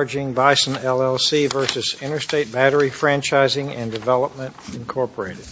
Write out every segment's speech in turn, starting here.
Charging Bison, L.L.C. v. Interstate Battery Franchising and Development, Incorporated.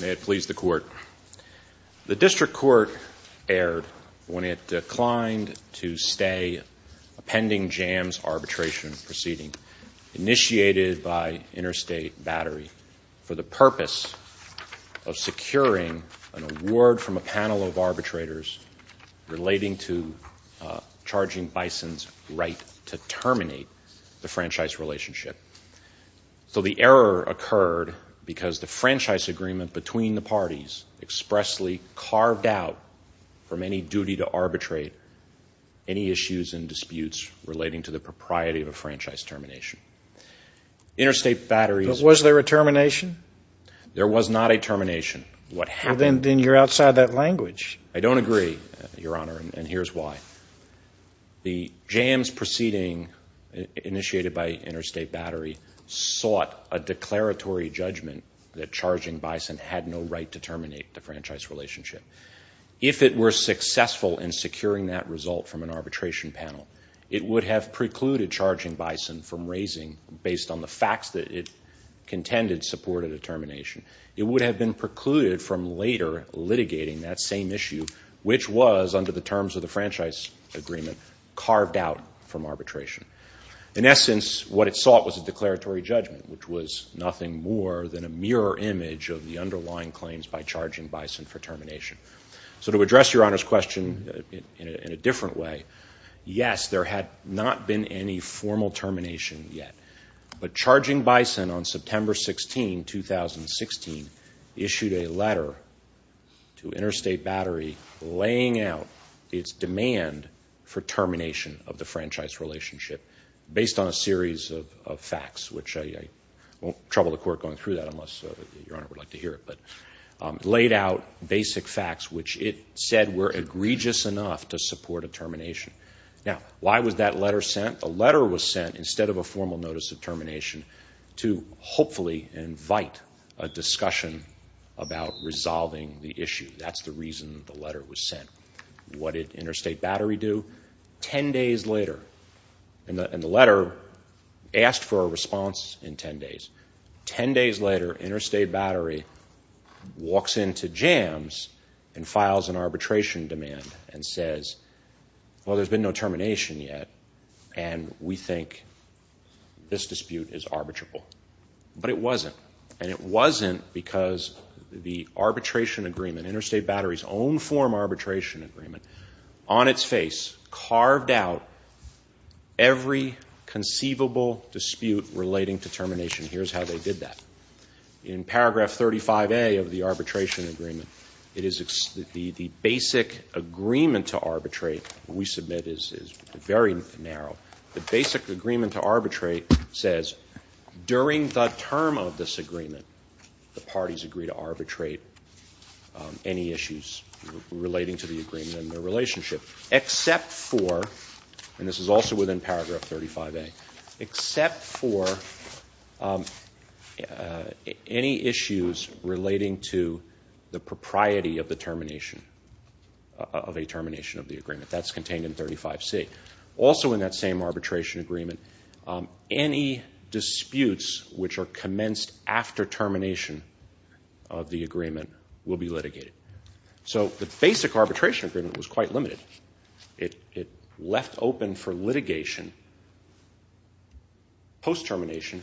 May it please the Court, the District Court erred when it declined to stay a pending jams arbitration proceeding. Initiated by Interstate Battery for the purpose of securing an award from a panel of arbitrators relating to charging Bison's right to terminate the franchise relationship. So the error occurred because the franchise agreement between the parties expressly carved out from any duty to arbitrate any issues and disputes relating to the propriety of a franchise termination. Interstate Battery... But was there a termination? There was not a termination. What happened? Then you're outside that language. I don't agree, Your Honor, and here's why. The jams proceeding initiated by Interstate Battery sought a declaratory judgment that charging Bison had no right to terminate the franchise relationship. If it were successful in securing that result from an arbitration panel, it would have precluded charging Bison from raising, based on the facts that it contended supported a termination. It would have been precluded from later litigating that same issue, which was, under the terms of the franchise agreement, carved out from arbitration. In essence, what it sought was a declaratory judgment, which was nothing more than a mirror image of the underlying claims by charging Bison for termination. So to address Your Honor's question in a different way, yes, there had not been any formal termination yet, but charging Bison on September 16, 2016, issued a letter to Interstate Battery laying out its demand for termination of the franchise relationship based on a series of facts, which I won't trouble the Court going through that unless Your Honor would like to hear it, but laid out basic facts which it said were egregious enough to support a termination. Now, why was that letter sent? The letter was sent, instead of a formal notice of termination, to hopefully invite a discussion about resolving the issue. That's the reason the letter was sent. What did Interstate Battery do? Ten days later, and the letter asked for a response in ten days. Ten days later, Interstate Battery walks into JAMS and files an arbitration demand and says, well, there's been no termination yet, and we think this dispute is arbitrable. But it wasn't, and it wasn't because the arbitration agreement, Interstate Battery's own form arbitration agreement, on its face, carved out every conceivable dispute relating to termination. Here's how they did that. In paragraph 35A of the arbitration agreement, the basic agreement to arbitrate we submit is very narrow. The basic agreement to arbitrate says during the term of this agreement, the parties agree to arbitrate any issues relating to the agreement and their relationship, except for, and this is also within paragraph 35A, except for any issues relating to the propriety of the termination, of a termination of the agreement. That's contained in 35C. Also in that same arbitration agreement, any disputes which are commenced after termination of the agreement will be litigated. So the basic arbitration agreement was quite limited. It left open for litigation, post-termination,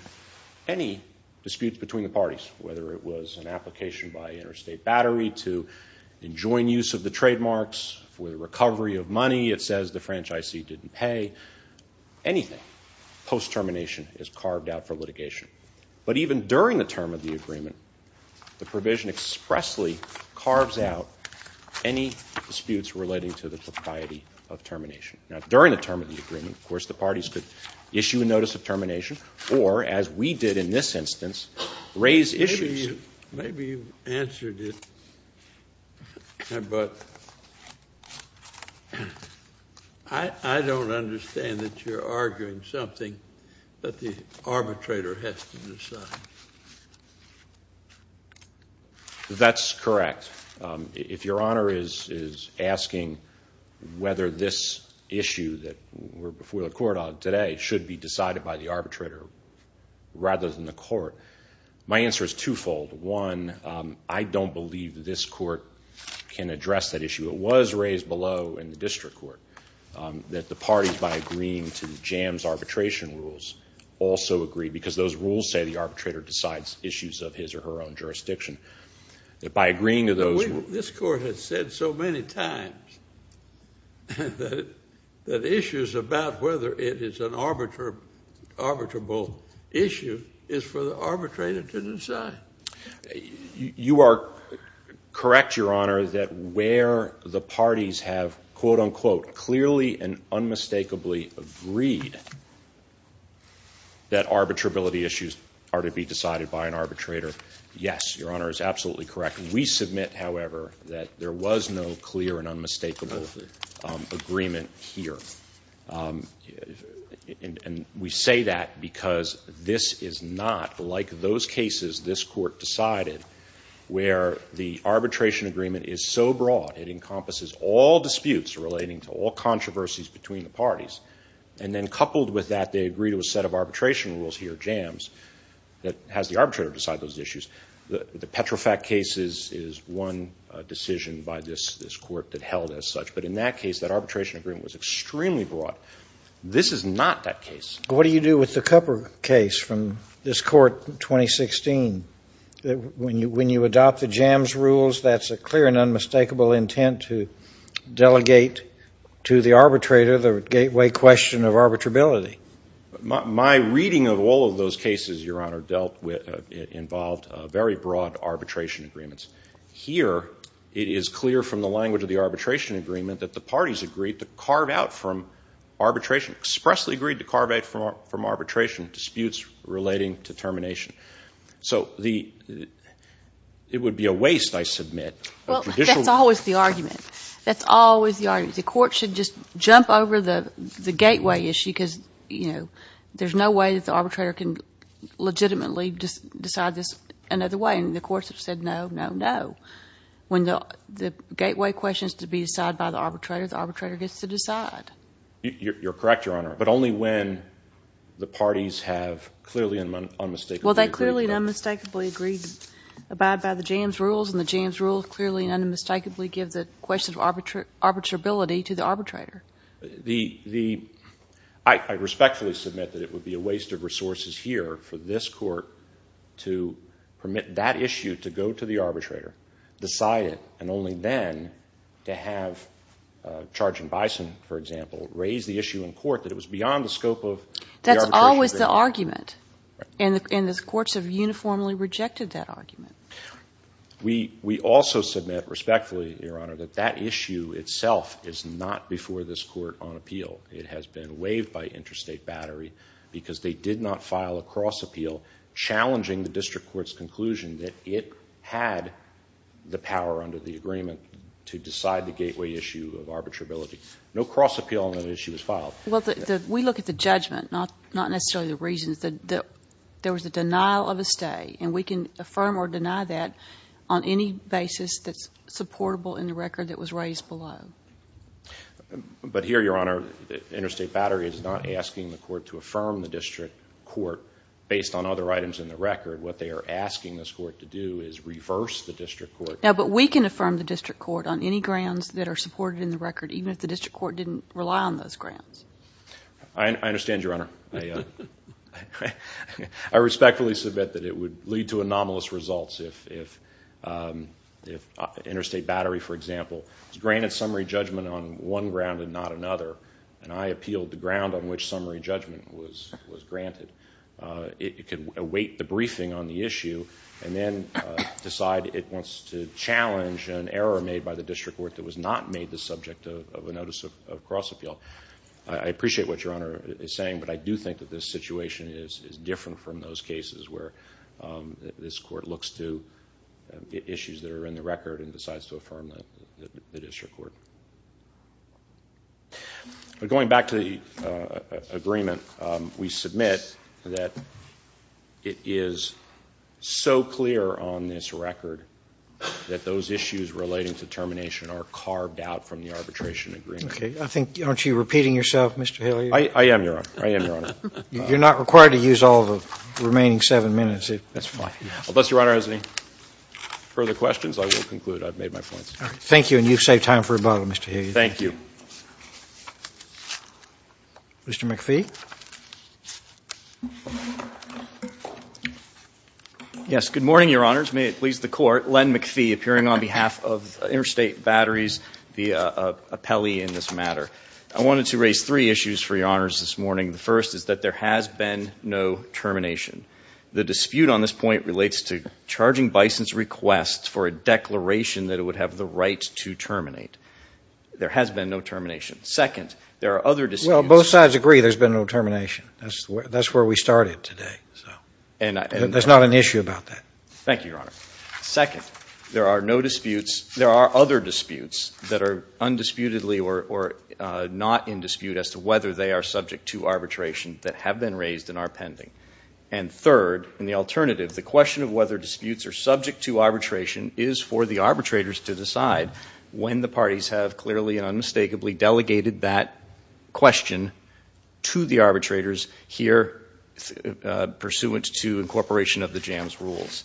any disputes between the parties, whether it was an application by Interstate Battery to enjoin use of the trademarks for the recovery of money, it says the franchisee didn't pay, anything post-termination is carved out for litigation. But even during the term of the agreement, the provision expressly carves out any disputes relating to the propriety of termination. Now, during the term of the agreement, of course, the parties could issue a notice of termination, or as we did in this instance, raise issues. Maybe you've answered it, but I don't understand that you're arguing something that the arbitrator has to decide. That's correct. If Your Honor is asking whether this issue that we're before the court on today should be decided by the arbitrator rather than the court, my answer is twofold. One, I don't believe this court can address that issue. It was raised below in the district court that the parties, by agreeing to the jams arbitration rules, also agree because those rules say the arbitrator decides issues of his or her own jurisdiction. This court has said so many times that issues about whether it is an arbitrable issue is for the arbitrator to decide. You are correct, Your Honor, that where the parties have, quote, unquote, clearly and unmistakably agreed that arbitrability issues are to be decided by an arbitrator. Yes, Your Honor is absolutely correct. We submit, however, that there was no clear and unmistakable agreement here. And we say that because this is not like those cases this court decided where the arbitration agreement is so broad, it encompasses all disputes relating to all controversies between the parties. And then coupled with that, they agree to a set of arbitration rules here, jams, that has the arbitrator decide those issues. The Petrofac case is one decision by this court that held as such. But in that case, that arbitration agreement was extremely broad. This is not that case. What do you do with the Cupper case from this court in 2016? When you adopt the jams rules, that's a clear and unmistakable intent to delegate to the arbitrator the gateway question of arbitrability. My reading of all of those cases, Your Honor, dealt with, involved very broad arbitration agreements. Here, it is clear from the language of the arbitration agreement that the parties agreed to carve out from arbitration, expressly agreed to carve out from arbitration disputes relating to termination. So it would be a waste, I submit. Well, that's always the argument. That's always the argument. The court should just jump over the gateway issue because, you know, there's no way that the arbitrator can legitimately decide this another way. And the courts have said no, no, no. When the gateway question is to be decided by the arbitrator, the arbitrator gets to decide. You're correct, Your Honor, but only when the parties have clearly and unmistakably agreed. Well, they clearly and unmistakably agreed to abide by the jams rules, and the jams rules clearly and unmistakably give the question of arbitrability to the arbitrator. I respectfully submit that it would be a waste of resources here for this court to permit that issue to go to the arbitrator, decide it, and only then to have Charging Bison, for example, raise the issue in court that it was beyond the scope of the arbitration agreement. But that's always the argument, and the courts have uniformly rejected that argument. We also submit respectfully, Your Honor, that that issue itself is not before this court on appeal. It has been waived by interstate battery because they did not file a cross-appeal challenging the district court's conclusion that it had the power under the agreement to decide the gateway issue of arbitrability. No cross-appeal on that issue was filed. Well, we look at the judgment, not necessarily the reasons. There was a denial of a stay, and we can affirm or deny that on any basis that's supportable in the record that was raised below. But here, Your Honor, interstate battery is not asking the court to affirm the district court based on other items in the record. What they are asking this court to do is reverse the district court. No, but we can affirm the district court on any grounds that are supported in the record, even if the district court didn't rely on those grounds. I understand, Your Honor. I respectfully submit that it would lead to anomalous results if interstate battery, for example, was granted summary judgment on one ground and not another, and I appealed the ground on which summary judgment was granted. It could await the briefing on the issue and then decide it wants to challenge an error made by the district court that was not made the subject of a notice of cross-appeal. I appreciate what Your Honor is saying, but I do think that this situation is different from those cases where this court looks to issues that are in the record and decides to affirm the district court. Going back to the agreement, we submit that it is so clear on this record that those issues relating to termination are carved out from the arbitration agreement. Okay. Aren't you repeating yourself, Mr. Hilliard? I am, Your Honor. I am, Your Honor. You're not required to use all the remaining seven minutes. That's fine. Unless Your Honor has any further questions, I will conclude. I've made my points. Thank you, and you've saved time for rebuttal, Mr. Hilliard. Thank you. Mr. McPhee. Yes. Good morning, Your Honors. May it please the Court. Len McPhee, appearing on behalf of Interstate Batteries, the appellee in this matter. I wanted to raise three issues for Your Honors this morning. The first is that there has been no termination. The dispute on this point relates to charging Bison's request for a declaration that it would have the right to terminate. There has been no termination. Second, there are other disputes. Well, both sides agree there's been no termination. That's where we started today. There's not an issue about that. Thank you, Your Honor. Second, there are no disputes. There are other disputes that are undisputedly or not in dispute as to whether they are subject to arbitration that have been raised and are pending. And third, in the alternative, the question of whether disputes are subject to arbitration is for the arbitrators to decide when the parties have clearly and unmistakably delegated that question to the arbitrators here pursuant to incorporation of the JAMS rules.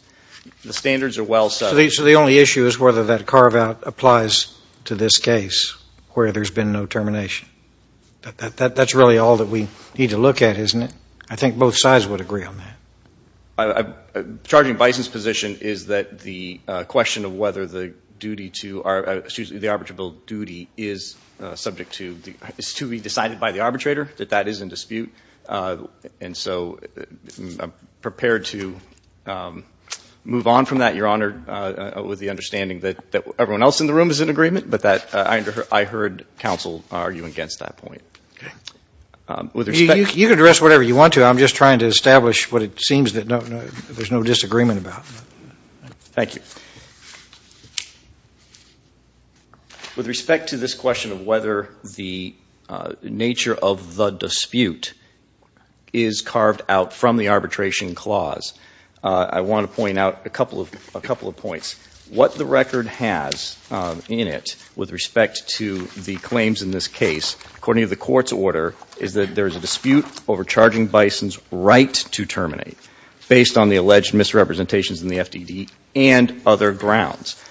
The standards are well set. So the only issue is whether that carve-out applies to this case where there's been no termination. That's really all that we need to look at, isn't it? I think both sides would agree on that. Charging Bison's position is that the question of whether the arbitrable duty is to be decided by the arbitrator, that that is in dispute. And so I'm prepared to move on from that, Your Honor, with the understanding that everyone else in the room is in agreement, but that I heard counsel argue against that point. You can address whatever you want to. But I'm just trying to establish what it seems that there's no disagreement about. Thank you. With respect to this question of whether the nature of the dispute is carved out from the arbitration clause, I want to point out a couple of points. What the record has in it with respect to the claims in this case, according to the court's order, is that there is a dispute over charging Bison's right to terminate based on the alleged misrepresentations in the FDD and other grounds.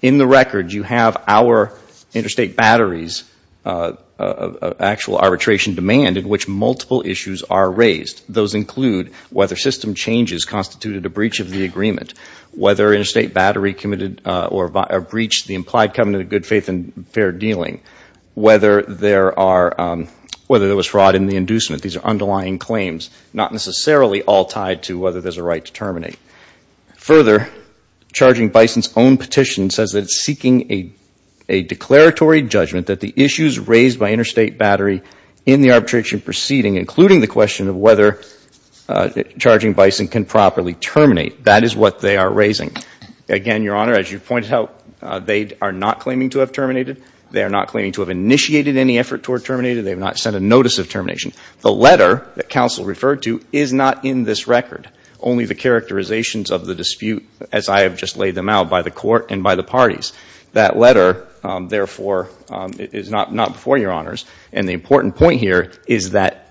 In the record, you have our interstate batteries, actual arbitration demand in which multiple issues are raised. Those include whether system changes constituted a breach of the agreement, whether interstate battery committed or breached the implied covenant of good faith and fair dealing, whether there was fraud in the inducement. These are underlying claims, not necessarily all tied to whether there's a right to terminate. Further, charging Bison's own petition says that it's seeking a declaratory judgment that the issues raised by interstate battery in the arbitration proceeding, including the question of whether charging Bison can properly terminate, that is what they are raising. Again, Your Honor, as you pointed out, they are not claiming to have terminated. They are not claiming to have initiated any effort toward terminating. They have not sent a notice of termination. The letter that counsel referred to is not in this record, only the characterizations of the dispute, as I have just laid them out by the court and by the parties. That letter, therefore, is not before Your Honors. And the important point here is that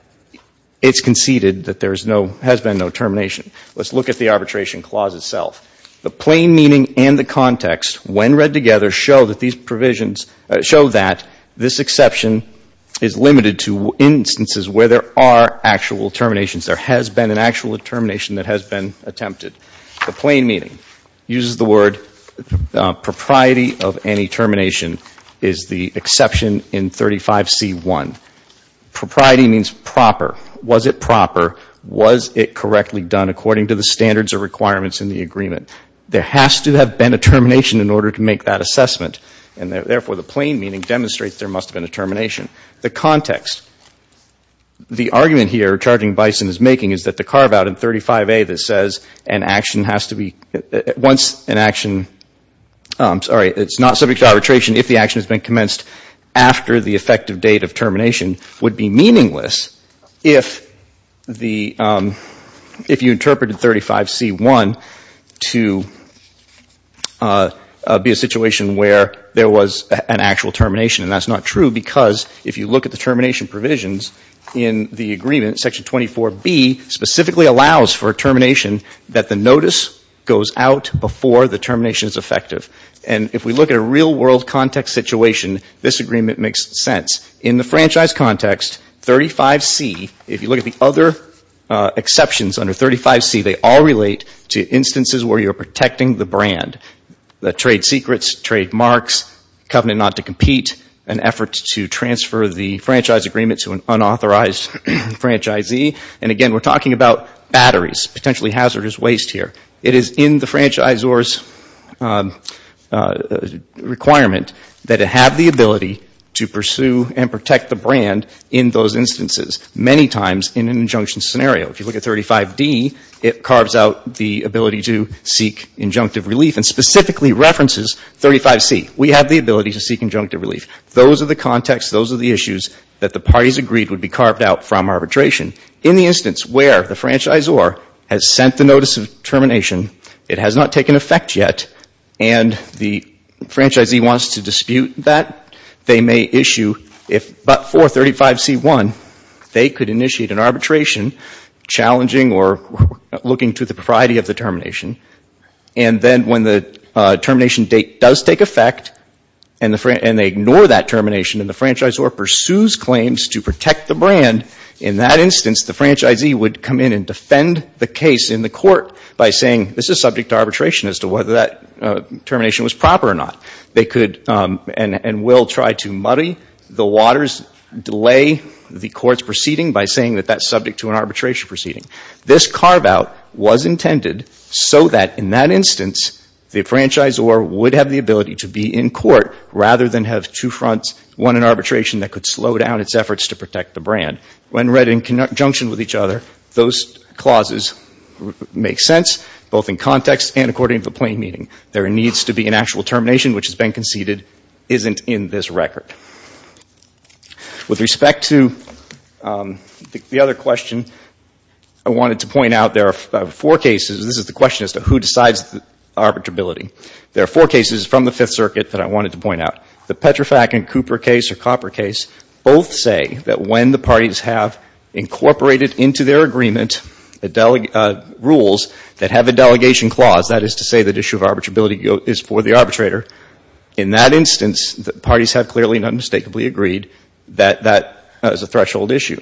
it's conceded that there has been no termination. Let's look at the arbitration clause itself. The plain meaning and the context, when read together, show that these provisions, show that this exception is limited to instances where there are actual terminations. There has been an actual termination that has been attempted. The plain meaning uses the word propriety of any termination is the exception in 35C1. Propriety means proper. Was it proper? Was it correctly done according to the standards or requirements in the agreement? There has to have been a termination in order to make that assessment. And therefore, the plain meaning demonstrates there must have been a termination. The context, the argument here charging Bison is making is that the carve-out in 35A that says an action has to be, once an action, I'm sorry, it's not subject to arbitration if the action has been commenced after the effective date of termination would be meaningless if the, if you interpreted 35C1 to be a situation where there was an actual termination. And that's not true because if you look at the termination provisions in the agreement, Section 24B specifically allows for a termination that the notice goes out before the termination is effective. And if we look at a real world context situation, this agreement makes sense. In the franchise context, 35C, if you look at the other exceptions under 35C, they all relate to instances where you're protecting the brand. The trade secrets, trade marks, covenant not to compete, an effort to transfer the franchise agreement to an unauthorized franchisee. And again, we're talking about batteries, potentially hazardous waste here. It is in the franchisor's requirement that it have the ability to pursue and protect the brand in those instances, many times in an injunction scenario. If you look at 35D, it carves out the ability to seek injunctive relief and specifically references 35C. We have the ability to seek injunctive relief. Those are the contexts, those are the issues that the parties agreed would be carved out from arbitration. In the instance where the franchisor has sent the notice of termination, it has not taken effect yet, and the franchisee wants to dispute that, they may issue, but for 35C1, they could initiate an arbitration challenging or looking to the propriety of the termination. And then when the termination date does take effect and they ignore that termination and the franchisor pursues claims to protect the brand, in that instance, the franchisee would come in and defend the case in the court by saying, this is subject to arbitration as to whether that termination was proper or not. They could and will try to muddy the waters, delay the court's proceeding by saying that that's subject to an arbitration proceeding. This carve-out was intended so that in that instance, the franchisor would have the ability to be in court rather than have two fronts, one in arbitration that could slow down its efforts to protect the brand. When read in conjunction with each other, those clauses make sense, both in context and according to the plain meaning. There needs to be an actual termination which has been conceded isn't in this record. With respect to the other question, I wanted to point out there are four cases, this is the question as to who decides arbitrability. There are four cases from the Fifth Circuit that I wanted to point out. The Petrofac and Cooper case or Copper case both say that when the parties have incorporated into their agreement rules that have a delegation clause, that is to say that issue of arbitrability is for the arbitrator, in that instance, the parties have clearly and unmistakably agreed that that is a threshold issue.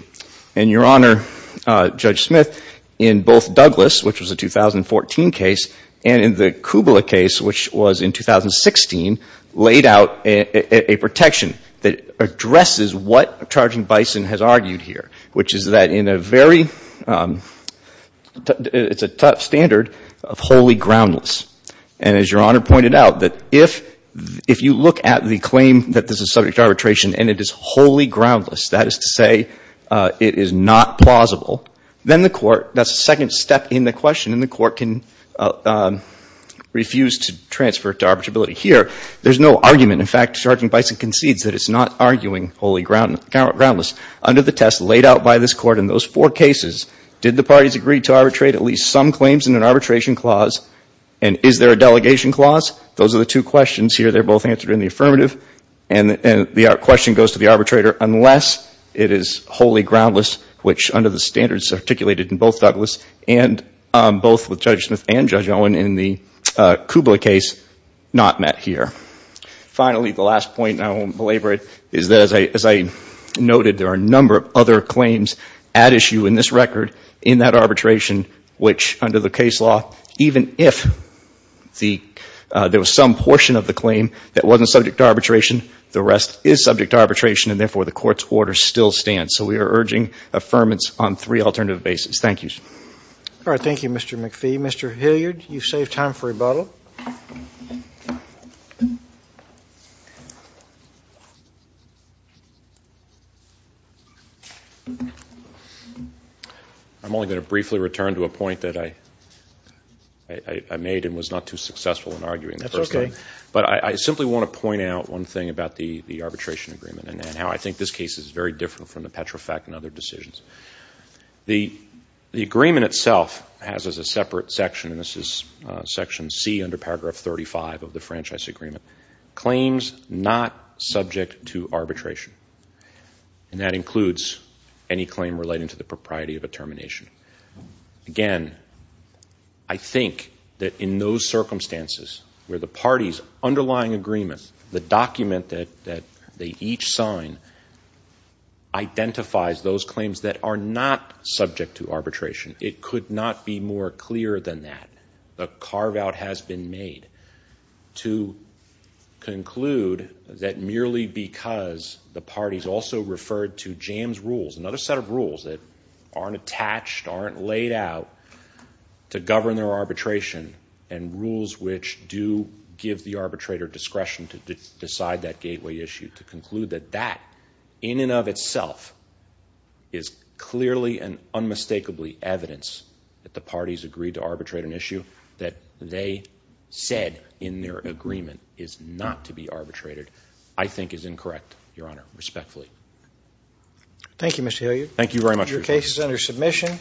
And, Your Honor, Judge Smith, in both Douglas, which was a 2014 case, and in the Kubla case, which was in 2016, laid out a protection that addresses what Charging Bison has argued here, which is that in a very, it's a tough standard of wholly groundless. And as Your Honor pointed out, that if you look at the claim that this is subject to arbitration and it is wholly groundless, that is to say it is not plausible, then the court, that's a second step in the question, and the court can refuse to transfer it to arbitrability. Here, there's no argument. In fact, Charging Bison concedes that it's not arguing wholly groundless. Under the test laid out by this Court in those four cases, did the parties agree to arbitrate at least some claims in an arbitration clause? And is there a delegation clause? Those are the two questions here. They're both answered in the affirmative. And the question goes to the arbitrator unless it is wholly groundless, which under the standards articulated in both Douglas and both with Judge Smith and Judge Owen in the Kubla case, not met here. Finally, the last point, and I won't belabor it, is that as I noted, there are a number of other claims at issue in this record in that arbitration, which under the case law, even if there was some portion of the claim that wasn't subject to arbitration, the rest is subject to arbitration, and therefore the Court's orders still stand. So we are urging affirmance on three alternative bases. Thank you. All right. Thank you, Mr. McPhee. Mr. Hilliard, you've saved time for rebuttal. Thank you. I'm only going to briefly return to a point that I made and was not too successful in arguing the first time. That's okay. But I simply want to point out one thing about the arbitration agreement and how I think this case is very different from the Petrofac and other decisions. The agreement itself has as a separate section, and this is Section C under Paragraph 35 of the Franchise Agreement, claims not subject to arbitration, and that includes any claim relating to the propriety of a termination. Again, I think that in those circumstances where the parties' underlying agreement, the document that they each sign identifies those claims that are not subject to arbitration. It could not be more clear than that. A carve-out has been made to conclude that merely because the parties also referred to JAMS rules, another set of rules that aren't attached, aren't laid out, to govern their arbitration and rules which do give the arbitrator discretion to decide that gateway issue, to conclude that that in and of itself is clearly and unmistakably evidence that the parties agreed to arbitrate an issue that they said in their agreement is not to be arbitrated, I think is incorrect, Your Honor, respectfully. Thank you, Mr. Hilliard. Thank you very much. Your case is under submission.